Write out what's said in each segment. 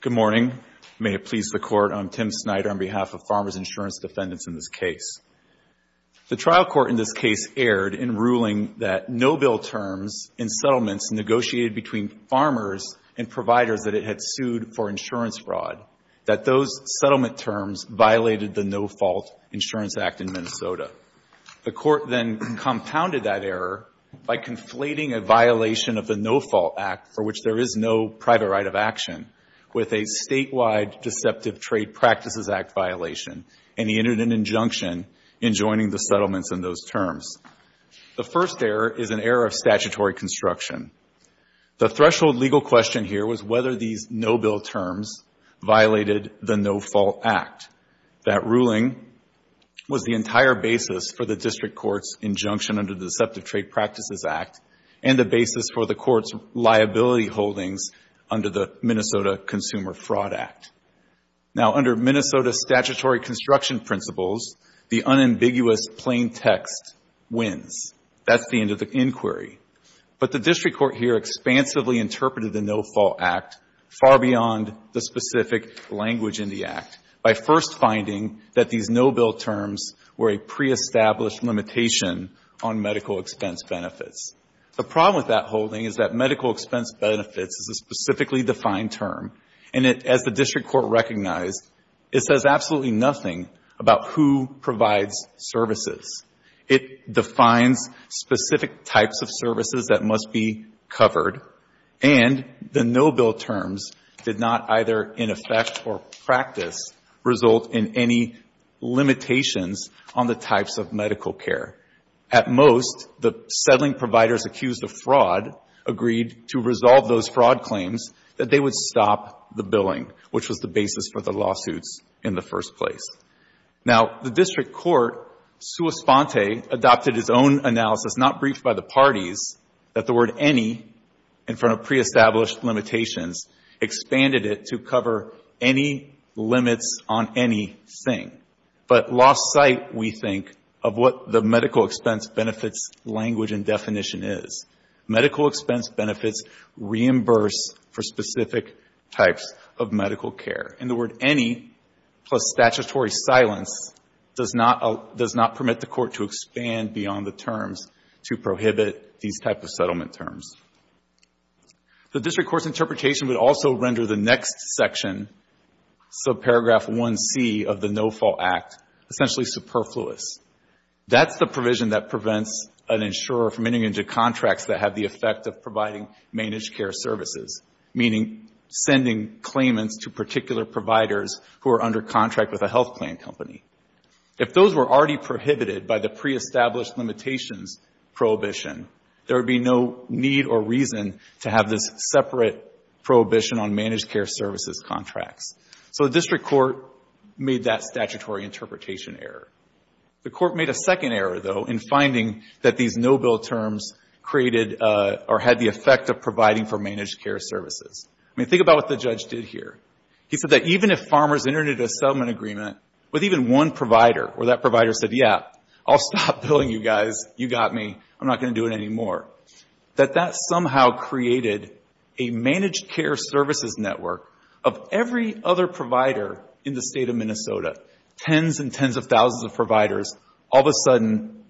Good morning. May it please the Court, I'm Tim Snyder on behalf of Farmers Insurance Defendants in this case. The trial court in this case erred in ruling that no-bill terms in settlements negotiated between farmers and providers that it had sued for insurance fraud, that those settlement terms violated the No-Fault Insurance Act in Minnesota. The court then compounded that error by conflating a violation of the No-Fault Act for which there is no private right of action with a statewide Deceptive Trade Practices Act violation, and he entered an injunction in joining the settlements in those terms. The first error is an error of statutory construction. The threshold legal question here was whether these no-bill terms violated the No-Fault Act. That ruling was the entire basis for the district court's injunction under the Deceptive Trade Practices Act and the basis for the court's liability holdings under the Minnesota Consumer Fraud Act. Now, under Minnesota statutory construction principles, the unambiguous plain text wins. That's the end of the inquiry. But the district court here expansively interpreted the No-Fault Act far beyond the specific language in the act. By first finding that these no-bill terms were a pre-established limitation on medical expense benefits. The problem with that holding is that medical expense benefits is a specifically defined term. And it, as the district court recognized, it says absolutely nothing about who provides services. It defines specific types of services that must be covered. And the no-bill terms did not either in effect or practice result in any limitations on the types of medical care. At most, the settling providers accused of fraud agreed to resolve those fraud claims that they would stop the billing, which was the basis for the lawsuits in the first place. Now, the district court, sua sponte, adopted its own analysis, not briefed by the parties, that the word any, in front of pre-established limitations, expanded it to cover any limits on anything, but lost sight, we think, of what the medical expense benefits language and definition is. Medical expense benefits reimburse for specific types of medical care. And the word any plus statutory silence does not permit the Court to expand beyond the terms to prohibit these type of settlement terms. The district court's interpretation would also render the next section, subparagraph 1C of the No-Fault Act, essentially superfluous. That's the provision that prevents an insurer from getting into contracts that have the effect of providing managed care services, meaning sending claimants to particular providers who are under contract with a health plan company. If those were already prohibited by the pre-established limitations prohibition, there would be no need or reason to have this separate prohibition on managed care services contracts. So the district court made that statutory interpretation error. The court made a second error, though, in finding that these no-bill terms created or had the effect of providing for managed care services. I mean, think about what the judge did here. He said that even if farmers entered into a settlement agreement with even one provider, where that provider said, yeah, I'll stop billing you guys. You got me. I'm not going to do it anymore. That that somehow created a managed care services network of every other provider in the state of Minnesota, tens and tens of thousands of providers, all of a sudden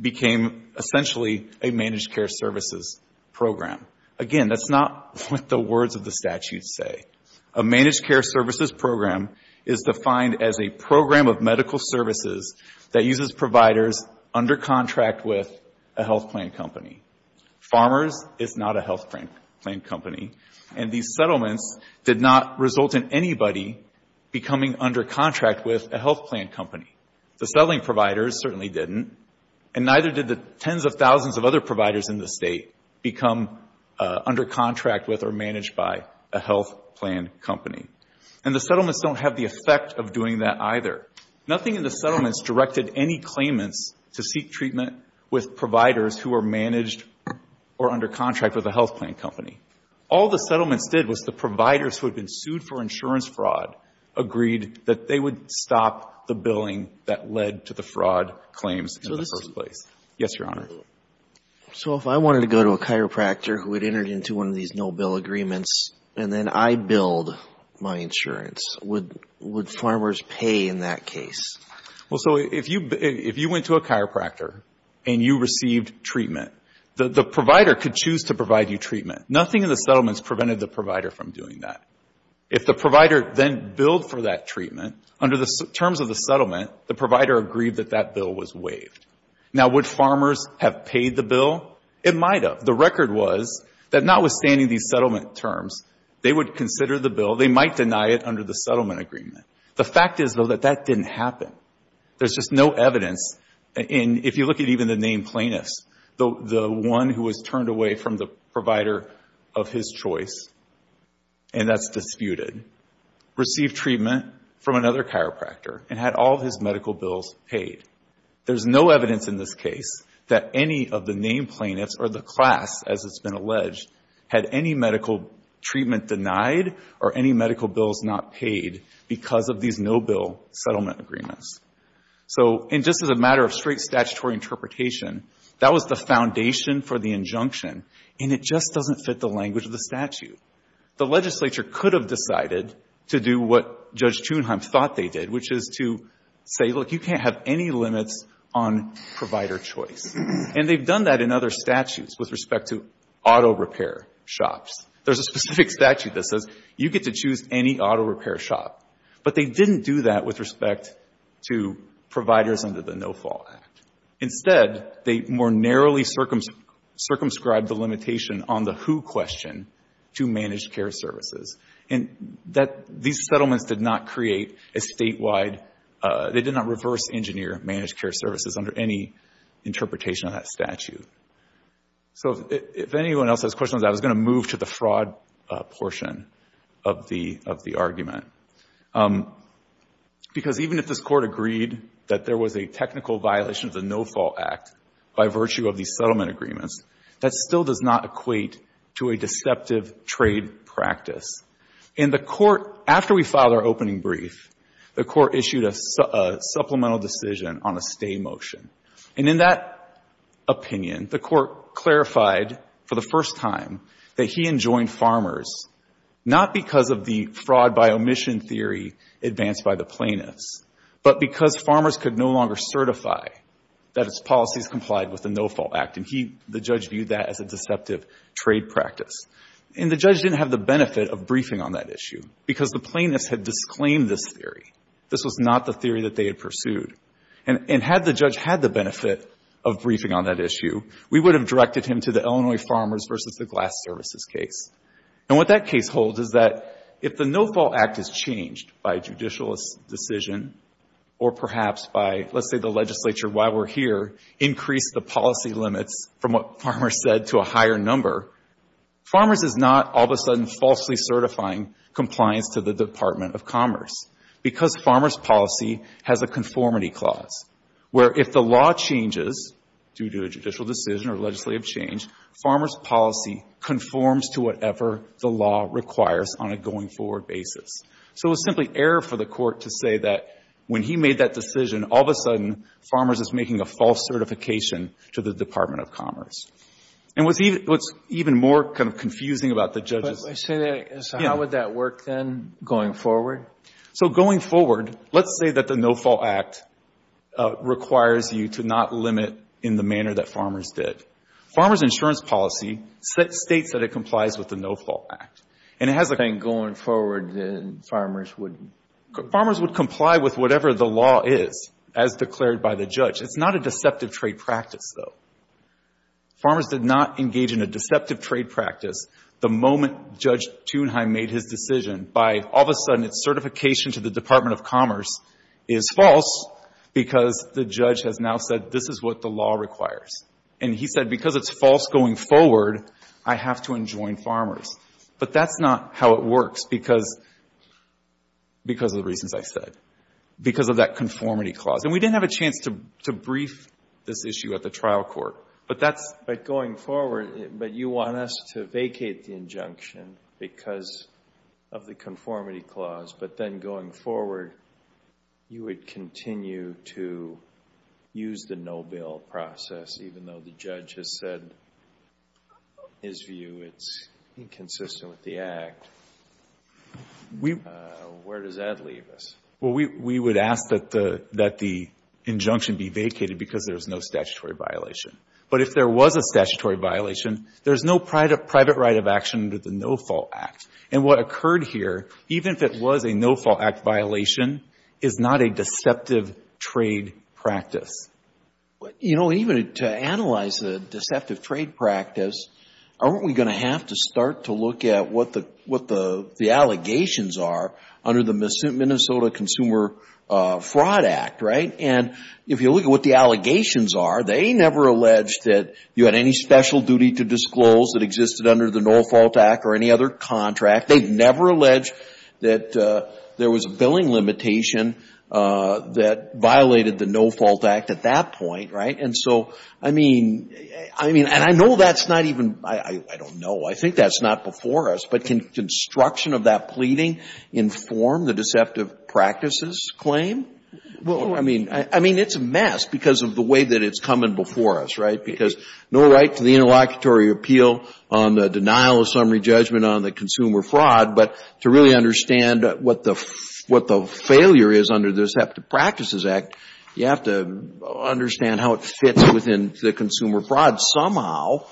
became essentially a managed care services program. Again, that's not what the words of the statute say. A managed care services program is defined as a program of medical services that uses providers under contract with a health plan company. Farmers is not a health plan company. And these settlements did not result in anybody becoming under contract with a health plan company. The settling providers certainly didn't. And neither did the tens of thousands of other providers in the state become under contract with or managed by a health plan company. And the settlements don't have the effect of doing that either. Nothing in the settlements directed any claimants to seek treatment with providers who were managed or under contract with a health plan company. All the settlements did was the providers who had been sued for insurance fraud agreed that they would stop the billing that led to the fraud claims in the first place. Yes, Your Honor. So if I wanted to go to a chiropractor who had entered into one of these no-bill agreements and then I billed my insurance, would farmers pay in that case? Well, so if you went to a chiropractor and you received treatment, the provider could choose to provide you treatment. Nothing in the settlements prevented the provider from doing that. If the provider then billed for that treatment, under the terms of the settlement, the provider agreed that that bill was waived. Now, would farmers have paid the bill? It might have. The record was that notwithstanding these settlement terms, they would consider the bill. They might deny it under the settlement agreement. The fact is, though, that that didn't happen. There's just no evidence. And if you look at even the named plaintiffs, the one who was turned away from the provider of his choice, and that's disputed, received treatment from another chiropractor and had all of his medical bills paid, there's no evidence in this case that any of the named plaintiffs or the class, as it's been alleged, had any medical treatment denied or any medical bills not paid because of these no-bill settlement agreements. So, and just as a matter of straight statutory interpretation, that was the foundation for the injunction, and it just doesn't fit the language of the statute. The legislature could have decided to do what Judge Chunheim thought they did, which is to say, look, you can't have any limits on provider choice. And they've done that in other statutes with respect to auto repair shops. There's a specific statute that says you get to choose any auto repair shop. But they didn't do that with respect to providers under the No Fall Act. Instead, they more narrowly circumscribed the limitation on the who question to managed care services. And that, these settlements did not create a statewide, they did not reverse engineer managed care services under any interpretation of that statute. So if anyone else has questions, I was going to move to the fraud portion of the argument. Because even if this Court agreed that there was a technical violation of the No Fall Act by virtue of these settlement agreements, that still does not equate to a deceptive trade practice. In the Court, after we filed our opening brief, the Court issued a supplemental decision on a stay motion. And in that opinion, the Court clarified for the first time that he enjoined farmers not because of the fraud by omission theory advanced by the plaintiffs, but because farmers could no longer certify that its policies complied with the No Fall Act. And he, the judge, viewed that as a deceptive trade practice. And the judge didn't have the benefit of briefing on that issue, because the plaintiffs had disclaimed this theory. This was not the theory that they had pursued. And had the judge had the benefit of briefing on that issue, we would have directed him to the Illinois Farmers v. the Glass Services case. And what that case holds is that if the No Fall Act is changed by judicial decision or perhaps by, let's say the legislature while we're here, increase the policy limits from what farmers said to a higher number, farmers is not all of a sudden falsely certifying compliance to the Department of Commerce. Because farmers policy has a conformity clause, where if the law changes due to a law requires on a going forward basis. So it was simply error for the court to say that when he made that decision, all of a sudden farmers is making a false certification to the Department of Commerce. And what's even more kind of confusing about the judge's... So how would that work then going forward? So going forward, let's say that the No Fall Act requires you to not limit in the manner that farmers did. Farmers insurance policy states that it complies with the No Fall Act. And it has a... Then going forward, then farmers wouldn't... Farmers would comply with whatever the law is as declared by the judge. It's not a deceptive trade practice, though. Farmers did not engage in a deceptive trade practice the moment Judge Thunheim made his decision by all of a sudden its certification to the Department of Commerce is false because the judge has now said this is what the law requires. And he said because it's false going forward, I have to enjoin farmers. But that's not how it works because of the reasons I said, because of that conformity clause. And we didn't have a chance to brief this issue at the trial court. But that's... But going forward, but you want us to vacate the injunction because of the conformity clause, but then going forward, you would continue to use the no bill process even though the judge has said his view it's inconsistent with the Act. Where does that leave us? Well, we would ask that the injunction be vacated because there's no statutory violation. But if there was a statutory violation, there's no private right of action under the No Fall Act. And what occurred here, even if it was a No Fall Act violation, is not a deceptive trade practice. You know, even to analyze the deceptive trade practice, aren't we going to have to start to look at what the allegations are under the Minnesota Consumer Fraud Act, right? And if you look at what the allegations are, they never alleged that you had any special duty to disclose that existed under the No Fall Act or any other contract. They never alleged that there was a billing limitation that violated the No Fall Act at that point, right? And so, I mean, I mean, and I know that's not even, I don't know. I think that's not before us. But can construction of that pleading inform the deceptive practices claim? I mean, it's a mess because of the way that it's coming before us, right? Because no right to the interlocutory appeal on the denial of summary judgment on the consumer fraud. But to really understand what the failure is under the Deceptive Practices Act, you have to understand how it fits within the consumer fraud somehow.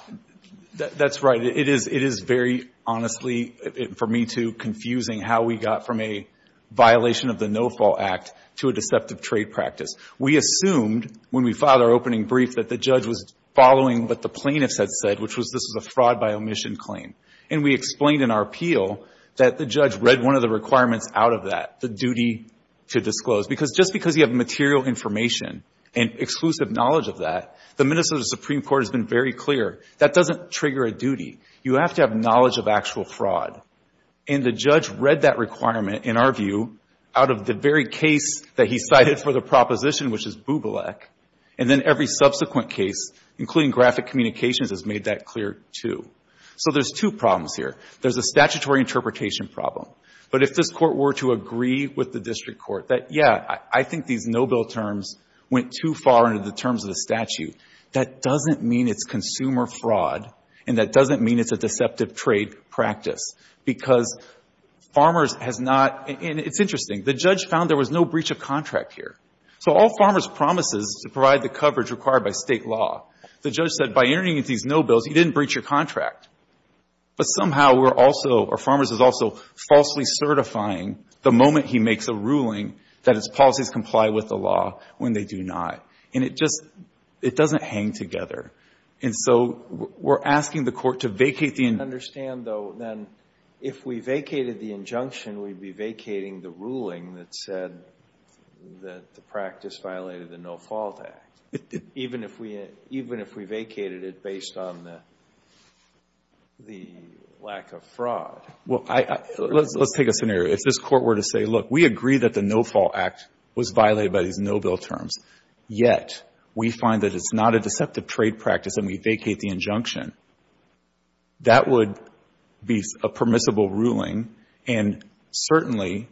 That's right. It is very honestly, for me too, confusing how we got from a violation of the No Fall Act to a deceptive trade practice. We assumed when we filed our opening brief that the judge was following what the plaintiffs had said, which was this was a fraud by omission claim. And we explained in our appeal that the judge read one of the requirements out of that, the duty to disclose. Because just because you have material information and exclusive knowledge of that, the Minnesota Supreme Court has been very clear. That doesn't trigger a duty. You have to have knowledge of actual fraud. And the judge read that requirement, in our view, out of the very case that he cited for the proposition, which is Bublek. And then every subsequent case, including graphic communications, has made that clear, too. So there's two problems here. There's a statutory interpretation problem. But if this Court were to agree with the district court that, yeah, I think these no-bill terms went too far into the terms of the statute, that doesn't mean it's consumer fraud and that doesn't mean it's a deceptive trade practice. Because farmers has not — and it's interesting. The judge found there was no breach of contract here. So all farmers promises to provide the coverage required by State law. The judge said, by entering these no bills, you didn't breach your contract. But somehow we're also — or farmers is also falsely certifying the moment he makes a ruling that its policies comply with the law when they do not. And it just — it doesn't hang together. And so we're asking the Court to vacate the — that the practice violated the No-Fault Act. Even if we vacated it based on the lack of fraud. Well, let's take a scenario. If this Court were to say, look, we agree that the No-Fault Act was violated by these no-bill terms, yet we find that it's not a deceptive trade practice and we vacate the injunction, that would be a permissible ruling. And certainly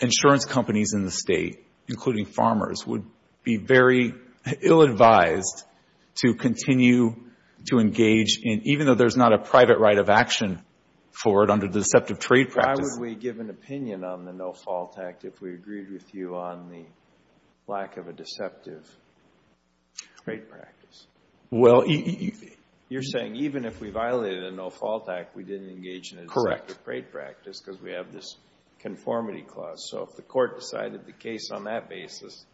insurance companies in the State, including farmers, would be very ill-advised to continue to engage in — even though there's not a private right of action for it under deceptive trade practice. Why would we give an opinion on the No-Fault Act if we agreed with you on the lack of a deceptive trade practice? Well — You're saying even if we violated a No-Fault Act, we didn't engage in a trade practice because we have this conformity clause. So if the Court decided the case on that basis,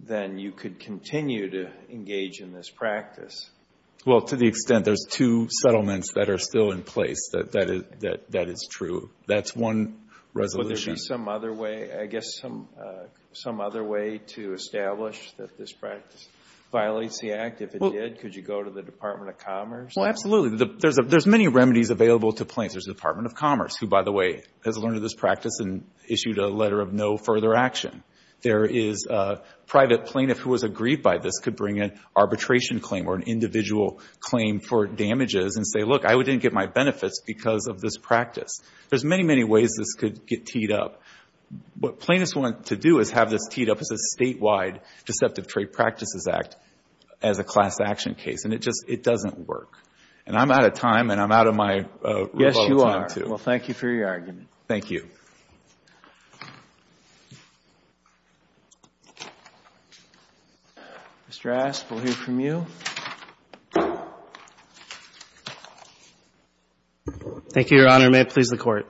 then you could continue to engage in this practice. Well, to the extent there's two settlements that are still in place, that is true. That's one resolution. Would there be some other way — I guess some other way to establish that this practice violates the Act? If it did, could you go to the Department of Commerce? Well, absolutely. There's many remedies available to plaintiffs. There's the Department of Commerce, who, by the way, has learned of this practice and issued a letter of no further action. There is a private plaintiff who has agreed by this could bring an arbitration claim or an individual claim for damages and say, look, I didn't get my benefits because of this practice. There's many, many ways this could get teed up. What plaintiffs want to do is have this teed up as a statewide deceptive trade practices act as a class action case. And it just — it doesn't work. And I'm out of time, and I'm out of my rebuttal time, too. Yes, you are. Well, thank you for your argument. Thank you. Mr. Asp, we'll hear from you. Thank you, Your Honor. May it please the Court.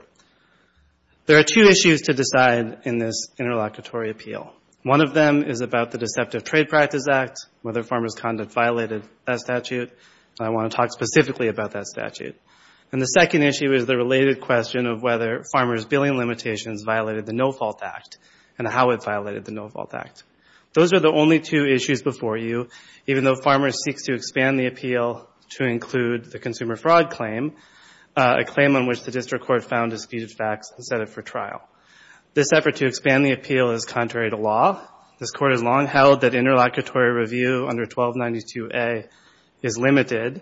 There are two issues to decide in this interlocutory appeal. One of them is about the deceptive trade practice act, whether farmers' conduct violated that statute. And I want to talk specifically about that statute. And the second issue is the related question of whether farmers' billing limitations violated the No Fault Act and how it violated the No Fault Act. Those are the only two issues before you, even though Farmers seeks to expand the appeal to include the consumer fraud claim, a claim on which the district court found disputed facts and set it for trial. This effort to expand the appeal is contrary to law. This Court has long held that interlocutory review under 1292A is limited.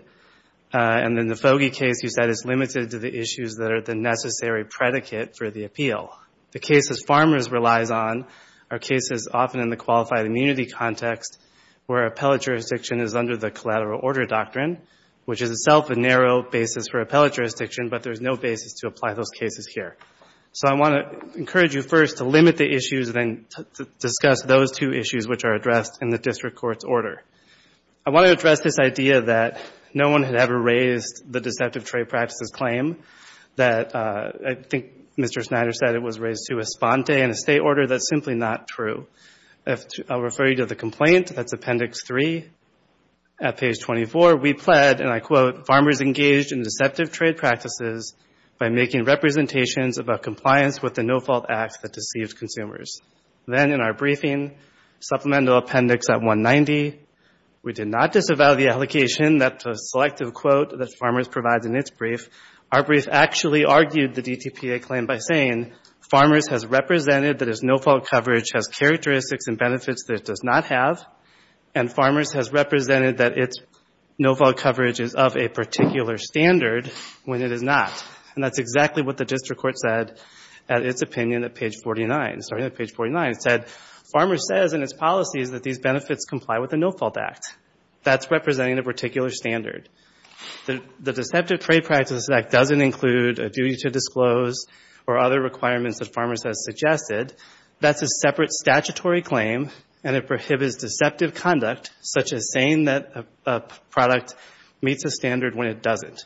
And in the Fogey case, you said it's limited to the issues that are the necessary predicate for the appeal. The cases Farmers relies on are cases often in the qualified immunity context where appellate jurisdiction is under the collateral order doctrine, which is itself a narrow basis for appellate jurisdiction, but there's no basis to apply those cases here. So I want to encourage you first to limit the issues and then discuss those two issues which are addressed in the district court's order. I want to address this idea that no one had ever raised the deceptive trade practices claim, that I think Mr. Snyder said it was raised to a sponte in a state order. That's simply not true. I'll refer you to the complaint. That's Appendix 3. At page 24, we pled, and I quote, Farmers engaged in deceptive trade practices by making representations about compliance with the No-Fault Act that deceived consumers. Then in our briefing, Supplemental Appendix at 190, we did not disavow the allegation that the selective quote that Farmers provides in its brief. Our brief actually argued the DTPA claim by saying Farmers has represented that its no-fault coverage has characteristics and benefits that it does not have, and Farmers has represented that its no-fault coverage is of a particular standard when it is not. And that's exactly what the district court said at its opinion at page 49. Starting at page 49, it said, Farmers says in its policies that these benefits comply with the No-Fault Act. That's representing a particular standard. The deceptive trade practices act doesn't include a duty to disclose or other requirements that Farmers has suggested. That's a separate statutory claim, and it prohibits deceptive conduct such as saying that a product meets a standard when it doesn't.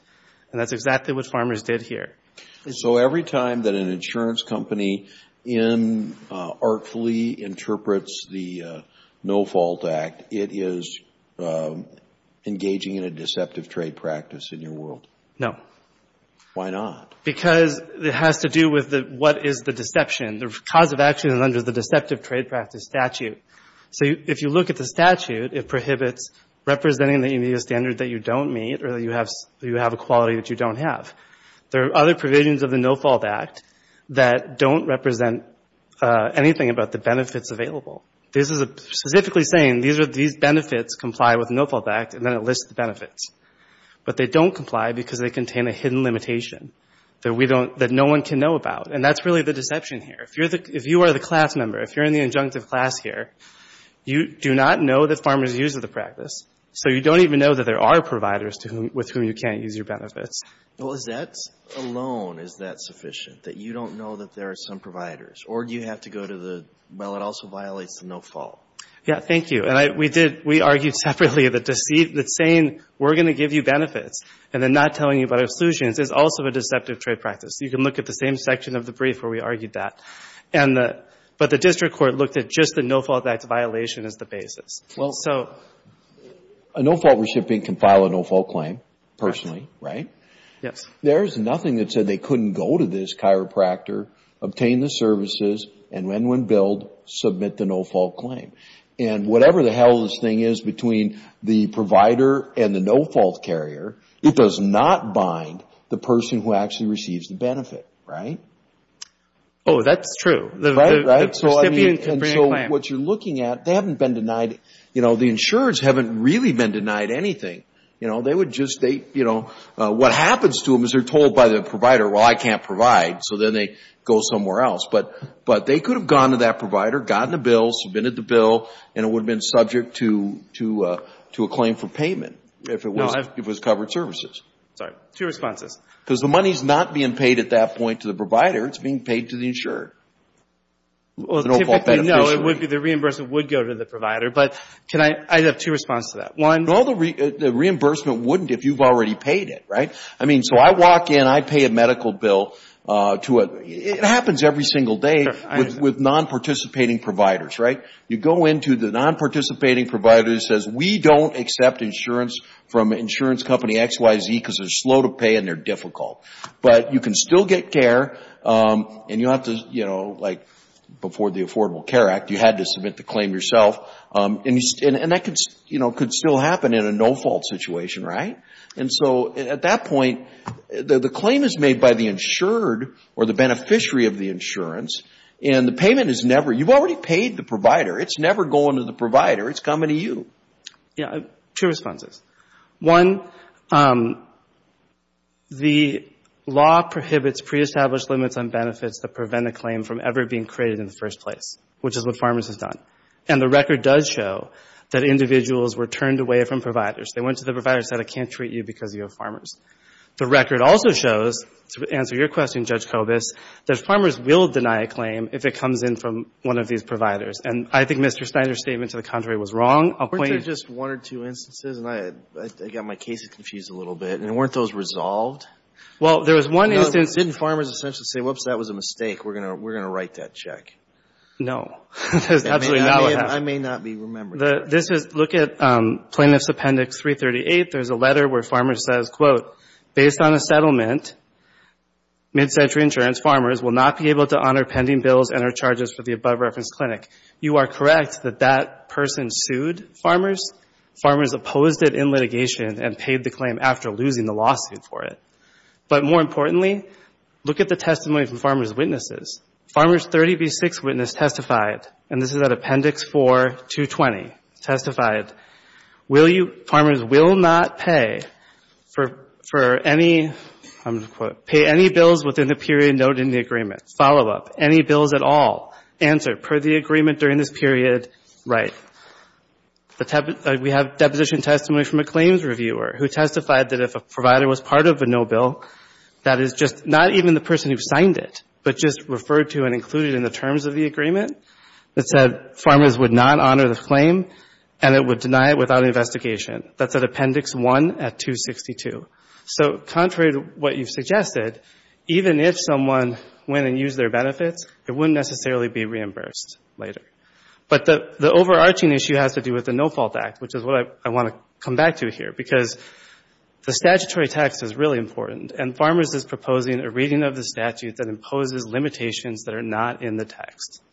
And that's exactly what Farmers did here. So every time that an insurance company artfully interprets the No-Fault Act, it is engaging in a deceptive trade practice in your world? No. Why not? Because it has to do with what is the deception. The cause of action is under the deceptive trade practice statute. So if you look at the statute, it prohibits representing the immediate standard that you don't meet or that you have a quality that you don't have. There are other provisions of the No-Fault Act that don't represent anything about the benefits available. This is specifically saying these benefits comply with the No-Fault Act, and then it lists the benefits. But they don't comply because they contain a hidden limitation that no one can know about. And that's really the deception here. If you are the class member, if you're in the injunctive class here, you do not know that farmers use the practice, so you don't even know that there are providers with whom you can't use your benefits. Well, is that alone, is that sufficient, that you don't know that there are some providers? Or do you have to go to the, well, it also violates the No-Fault? Yeah, thank you. And we argued separately that saying we're going to give you benefits and then not telling you about exclusions is also a deceptive trade practice. You can look at the same section of the brief where we argued that. But the district court looked at just the No-Fault Act violation as the basis. Well, a No-Fault recipient can file a No-Fault claim personally, right? Yes. There is nothing that said they couldn't go to this chiropractor, obtain the services, and when billed, submit the No-Fault claim. And whatever the hell this thing is between the provider and the No-Fault carrier, it does not bind the person who actually receives the benefit, right? Oh, that's true. Right, right. The recipient can bring a claim. And so what you're looking at, they haven't been denied, you know, the insurers haven't really been denied anything. You know, they would just, you know, what happens to them is they're told by the provider, well, I can't provide. So then they go somewhere else. But they could have gone to that provider, gotten a bill, submitted the bill, and it would have been subject to a claim for payment. If it was covered services. Sorry. Two responses. Because the money is not being paid at that point to the provider. It's being paid to the insurer. Well, typically, no. The reimbursement would go to the provider. But can I, I have two responses to that. One. No, the reimbursement wouldn't if you've already paid it, right? I mean, so I walk in, I pay a medical bill to a, it happens every single day. Sure. With non-participating providers, right? You go into the non-participating provider who says, we don't accept insurance from insurance company XYZ because they're slow to pay and they're difficult. But you can still get care, and you have to, you know, like before the Affordable Care Act, you had to submit the claim yourself. And that, you know, could still happen in a no-fault situation, right? And so at that point, the claim is made by the insured or the beneficiary of the insurance. And the payment is never, you've already paid the provider, it's never going to the provider. It's coming to you. Yeah, two responses. One, the law prohibits pre-established limits on benefits that prevent a claim from ever being created in the first place, which is what Farmers has done. And the record does show that individuals were turned away from providers. They went to the provider and said, I can't treat you because you have Farmers. The record also shows, to answer your question, Judge Kobus, that Farmers will deny a claim if it comes in from one of these providers. And I think Mr. Snyder's statement, to the contrary, was wrong. Weren't there just one or two instances? And I got my case confused a little bit. And weren't those resolved? Well, there was one instance. Didn't Farmers essentially say, whoops, that was a mistake. We're going to write that check? No. There's absolutely not. I may not be remembering that. Look at Plaintiff's Appendix 338. There's a letter where Farmers says, quote, based on the settlement, mid-century insurance farmers will not be able to honor pending bills and or charges for the above-referenced clinic. You are correct that that person sued Farmers. Farmers opposed it in litigation and paid the claim after losing the lawsuit for it. But more importantly, look at the testimony from Farmers' witnesses. Farmers' 30 v. 6 witness testified, and this is at Appendix 4, 220, testified, Farmers will not pay for any, quote, pay any bills within the period noted in the agreement, follow-up, any bills at all, answer, per the agreement during this period, right. We have deposition testimony from a claims reviewer who testified that if a provider was part of a no bill, that is just not even the person who signed it, but just referred to and included in the terms of the agreement that said Farmers would not honor the claim and it would deny it without investigation. That's at Appendix 1 at 262. So contrary to what you've suggested, even if someone went and used their benefits, it wouldn't necessarily be reimbursed later. But the overarching issue has to do with the No Fault Act, which is what I want to come back to here, because the statutory text is really important, and Farmers is proposing a reading of the statute that imposes limitations that are not in the text.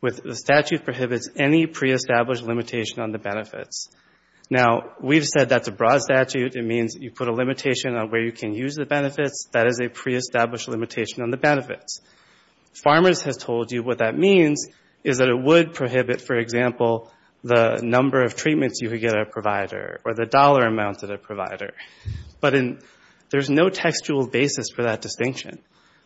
The statute prohibits any pre-established limitation on the benefits. Now, we've said that's a broad statute. It means you put a limitation on where you can use the benefits. That is a pre-established limitation on the benefits. Farmers has told you what that means is that it would prohibit, for example, the number of treatments you could get at a provider or the dollar amount at a provider. But there's no textual basis for that distinction.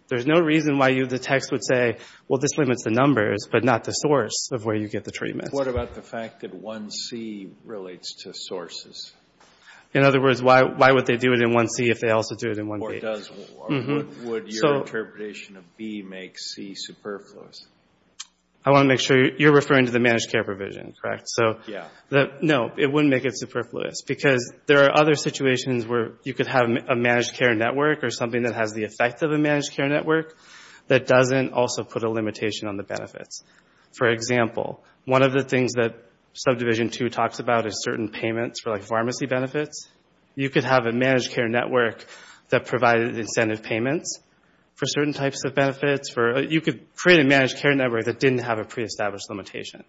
There's no reason why the text would say, well, this limits the numbers, but not the source of where you get the treatment. What about the fact that 1C relates to sources? In other words, why would they do it in 1C if they also do it in 1B? Or would your interpretation of B make C superfluous? I want to make sure you're referring to the managed care provision, correct? Yeah. No, it wouldn't make it superfluous, because there are other situations where you could have a managed care network or something that has the effect of a managed care network that doesn't also put a limitation on the benefits. For example, one of the things that Subdivision 2 talks about is certain payments for pharmacy benefits. You could have a managed care network that provided incentive payments for certain types of benefits. You could create a managed care network that didn't have a pre-established limitation.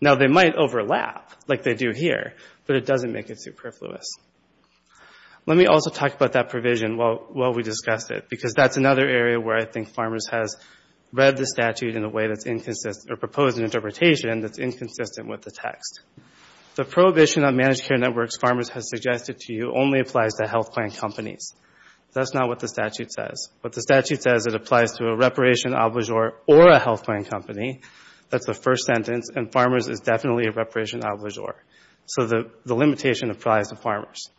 Now, they might overlap, like they do here, but it doesn't make it superfluous. Let me also talk about that provision while we discuss it, because that's another area where I think Farmers has read the statute in a way that's inconsistent, or proposed an interpretation that's inconsistent with the text. The prohibition on managed care networks Farmers has suggested to you only applies to health plan companies. That's not what the statute says. What the statute says, it applies to a reparation obligure or a health plan company. That's the first sentence, and Farmers is definitely a reparation obligure. So the limitation applies to Farmers.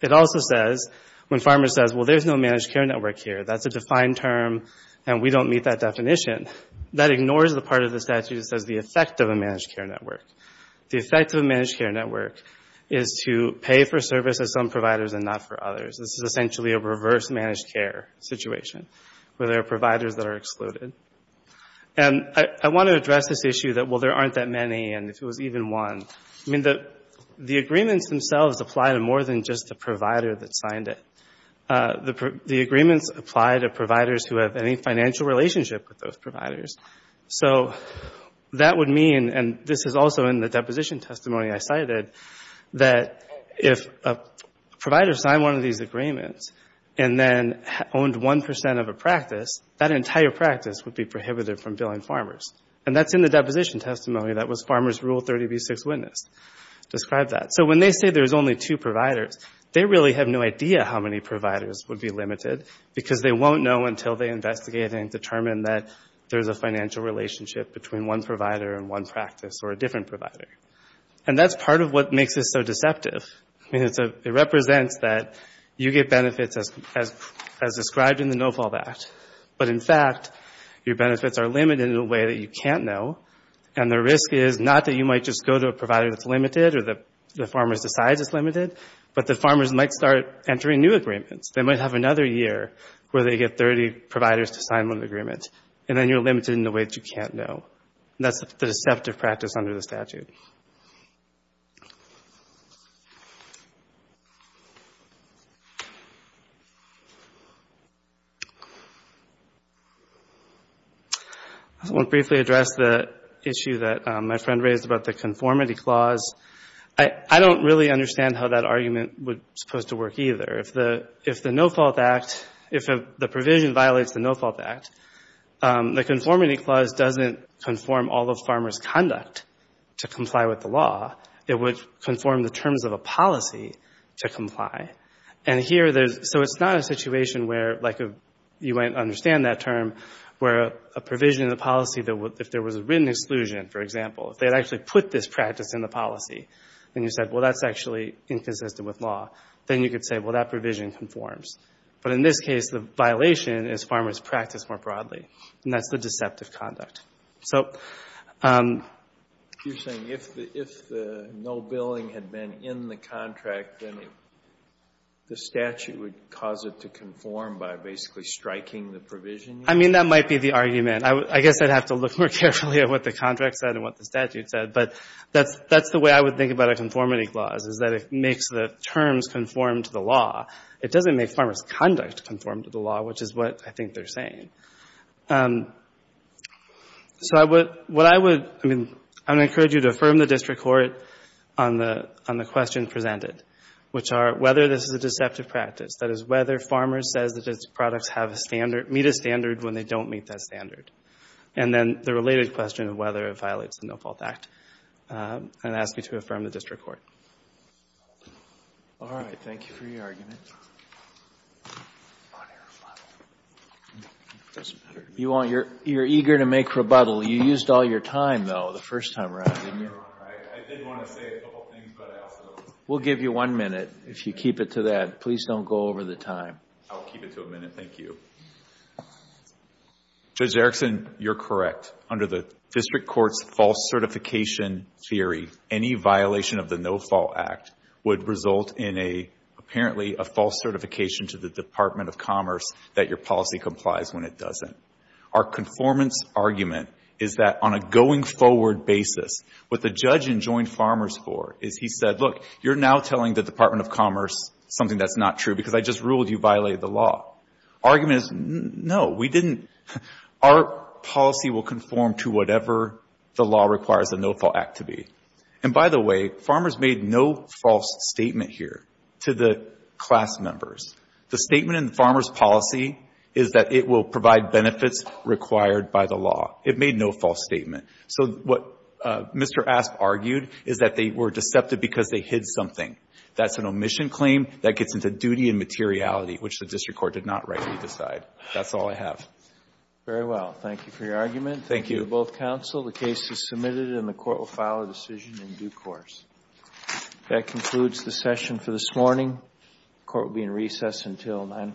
It also says, when Farmers says, well, there's no managed care network here, that's a defined term, and we don't meet that definition, that ignores the part of the statute that says the effect of a managed care network. The effect of a managed care network is to pay for service to some providers and not for others. This is essentially a reverse managed care situation, where there are providers that are excluded. I want to address this issue that, well, there aren't that many, and if there was even one. I mean, the agreements themselves apply to more than just the provider that signed it. The agreements apply to providers who have any financial relationship with those providers. So that would mean, and this is also in the deposition testimony I cited, that if a provider signed one of these agreements and then owned 1 percent of a practice, that entire practice would be prohibited from billing Farmers. And that's in the deposition testimony that was Farmers Rule 30b-6 witnessed. Describe that. So when they say there's only two providers, they really have no idea how many providers would be limited because they won't know until they investigate and determine that there's a financial relationship between one provider and one practice or a different provider. And that's part of what makes this so deceptive. I mean, it represents that you get benefits as described in the No-Fault Act, but in fact, your benefits are limited in a way that you can't know, and the risk is not that you might just go to a provider that's limited or that Farmers decides it's limited, but that Farmers might start entering new agreements. They might have another year where they get 30 providers to sign one agreement, and then you're limited in a way that you can't know. That's the deceptive practice under the statute. I want to briefly address the issue that my friend raised about the conformity clause. I don't really understand how that argument was supposed to work either. If the No-Fault Act, if the provision violates the No-Fault Act, the conformity clause doesn't conform all of farmers' conduct to comply with the law. It would conform the terms of a policy to comply. So it's not a situation where, like you might understand that term, where a provision in the policy, if there was a written exclusion, for example, if they had actually put this practice in the policy, and you said, well, that's actually inconsistent with law, then you could say, well, that provision conforms. But in this case, the violation is farmers' practice more broadly, and that's the deceptive conduct. You're saying if the no billing had been in the contract, then the statute would cause it to conform by basically striking the provision? I mean, that might be the argument. I guess I'd have to look more carefully at what the contract said and what the statute said. But that's the way I would think about a conformity clause, is that it makes the terms conform to the law. It doesn't make farmers' conduct conform to the law, which is what I think they're saying. So what I would, I mean, I would encourage you to affirm the district court on the question presented, which are whether this is a deceptive practice, that is whether farmers says that its products have a standard, meet a standard when they don't meet that standard. And then the related question of whether it violates the No-Fault Act, and ask you to affirm the district court. All right. Thank you for your argument. You're eager to make rebuttal. You used all your time, though, the first time around. I did want to say a couple things. We'll give you one minute if you keep it to that. Please don't go over the time. I'll keep it to a minute. Thank you. Judge Erickson, you're correct. Under the district court's false certification theory, any violation of the No-Fault Act would result in apparently a false certification to the Department of Commerce that your policy complies when it doesn't. Our conformance argument is that on a going forward basis, what the judge enjoined farmers for is he said, look, you're now telling the Department of Commerce something that's not true because I just ruled you violated the law. Argument is, no, we didn't. Our policy will conform to whatever the law requires the No-Fault Act to be. And by the way, farmers made no false statement here to the class members. The statement in the farmer's policy is that it will provide benefits required by the law. It made no false statement. So what Mr. Asp argued is that they were deceptive because they hid something. That's an omission claim. That gets into duty and materiality, which the district court did not rightly decide. That's all I have. Very well. Thank you for your argument. Thank you to both counsel. The case is submitted and the court will file a decision in due course. That concludes the session for this morning. The court will be in recess until 9 o'clock tomorrow.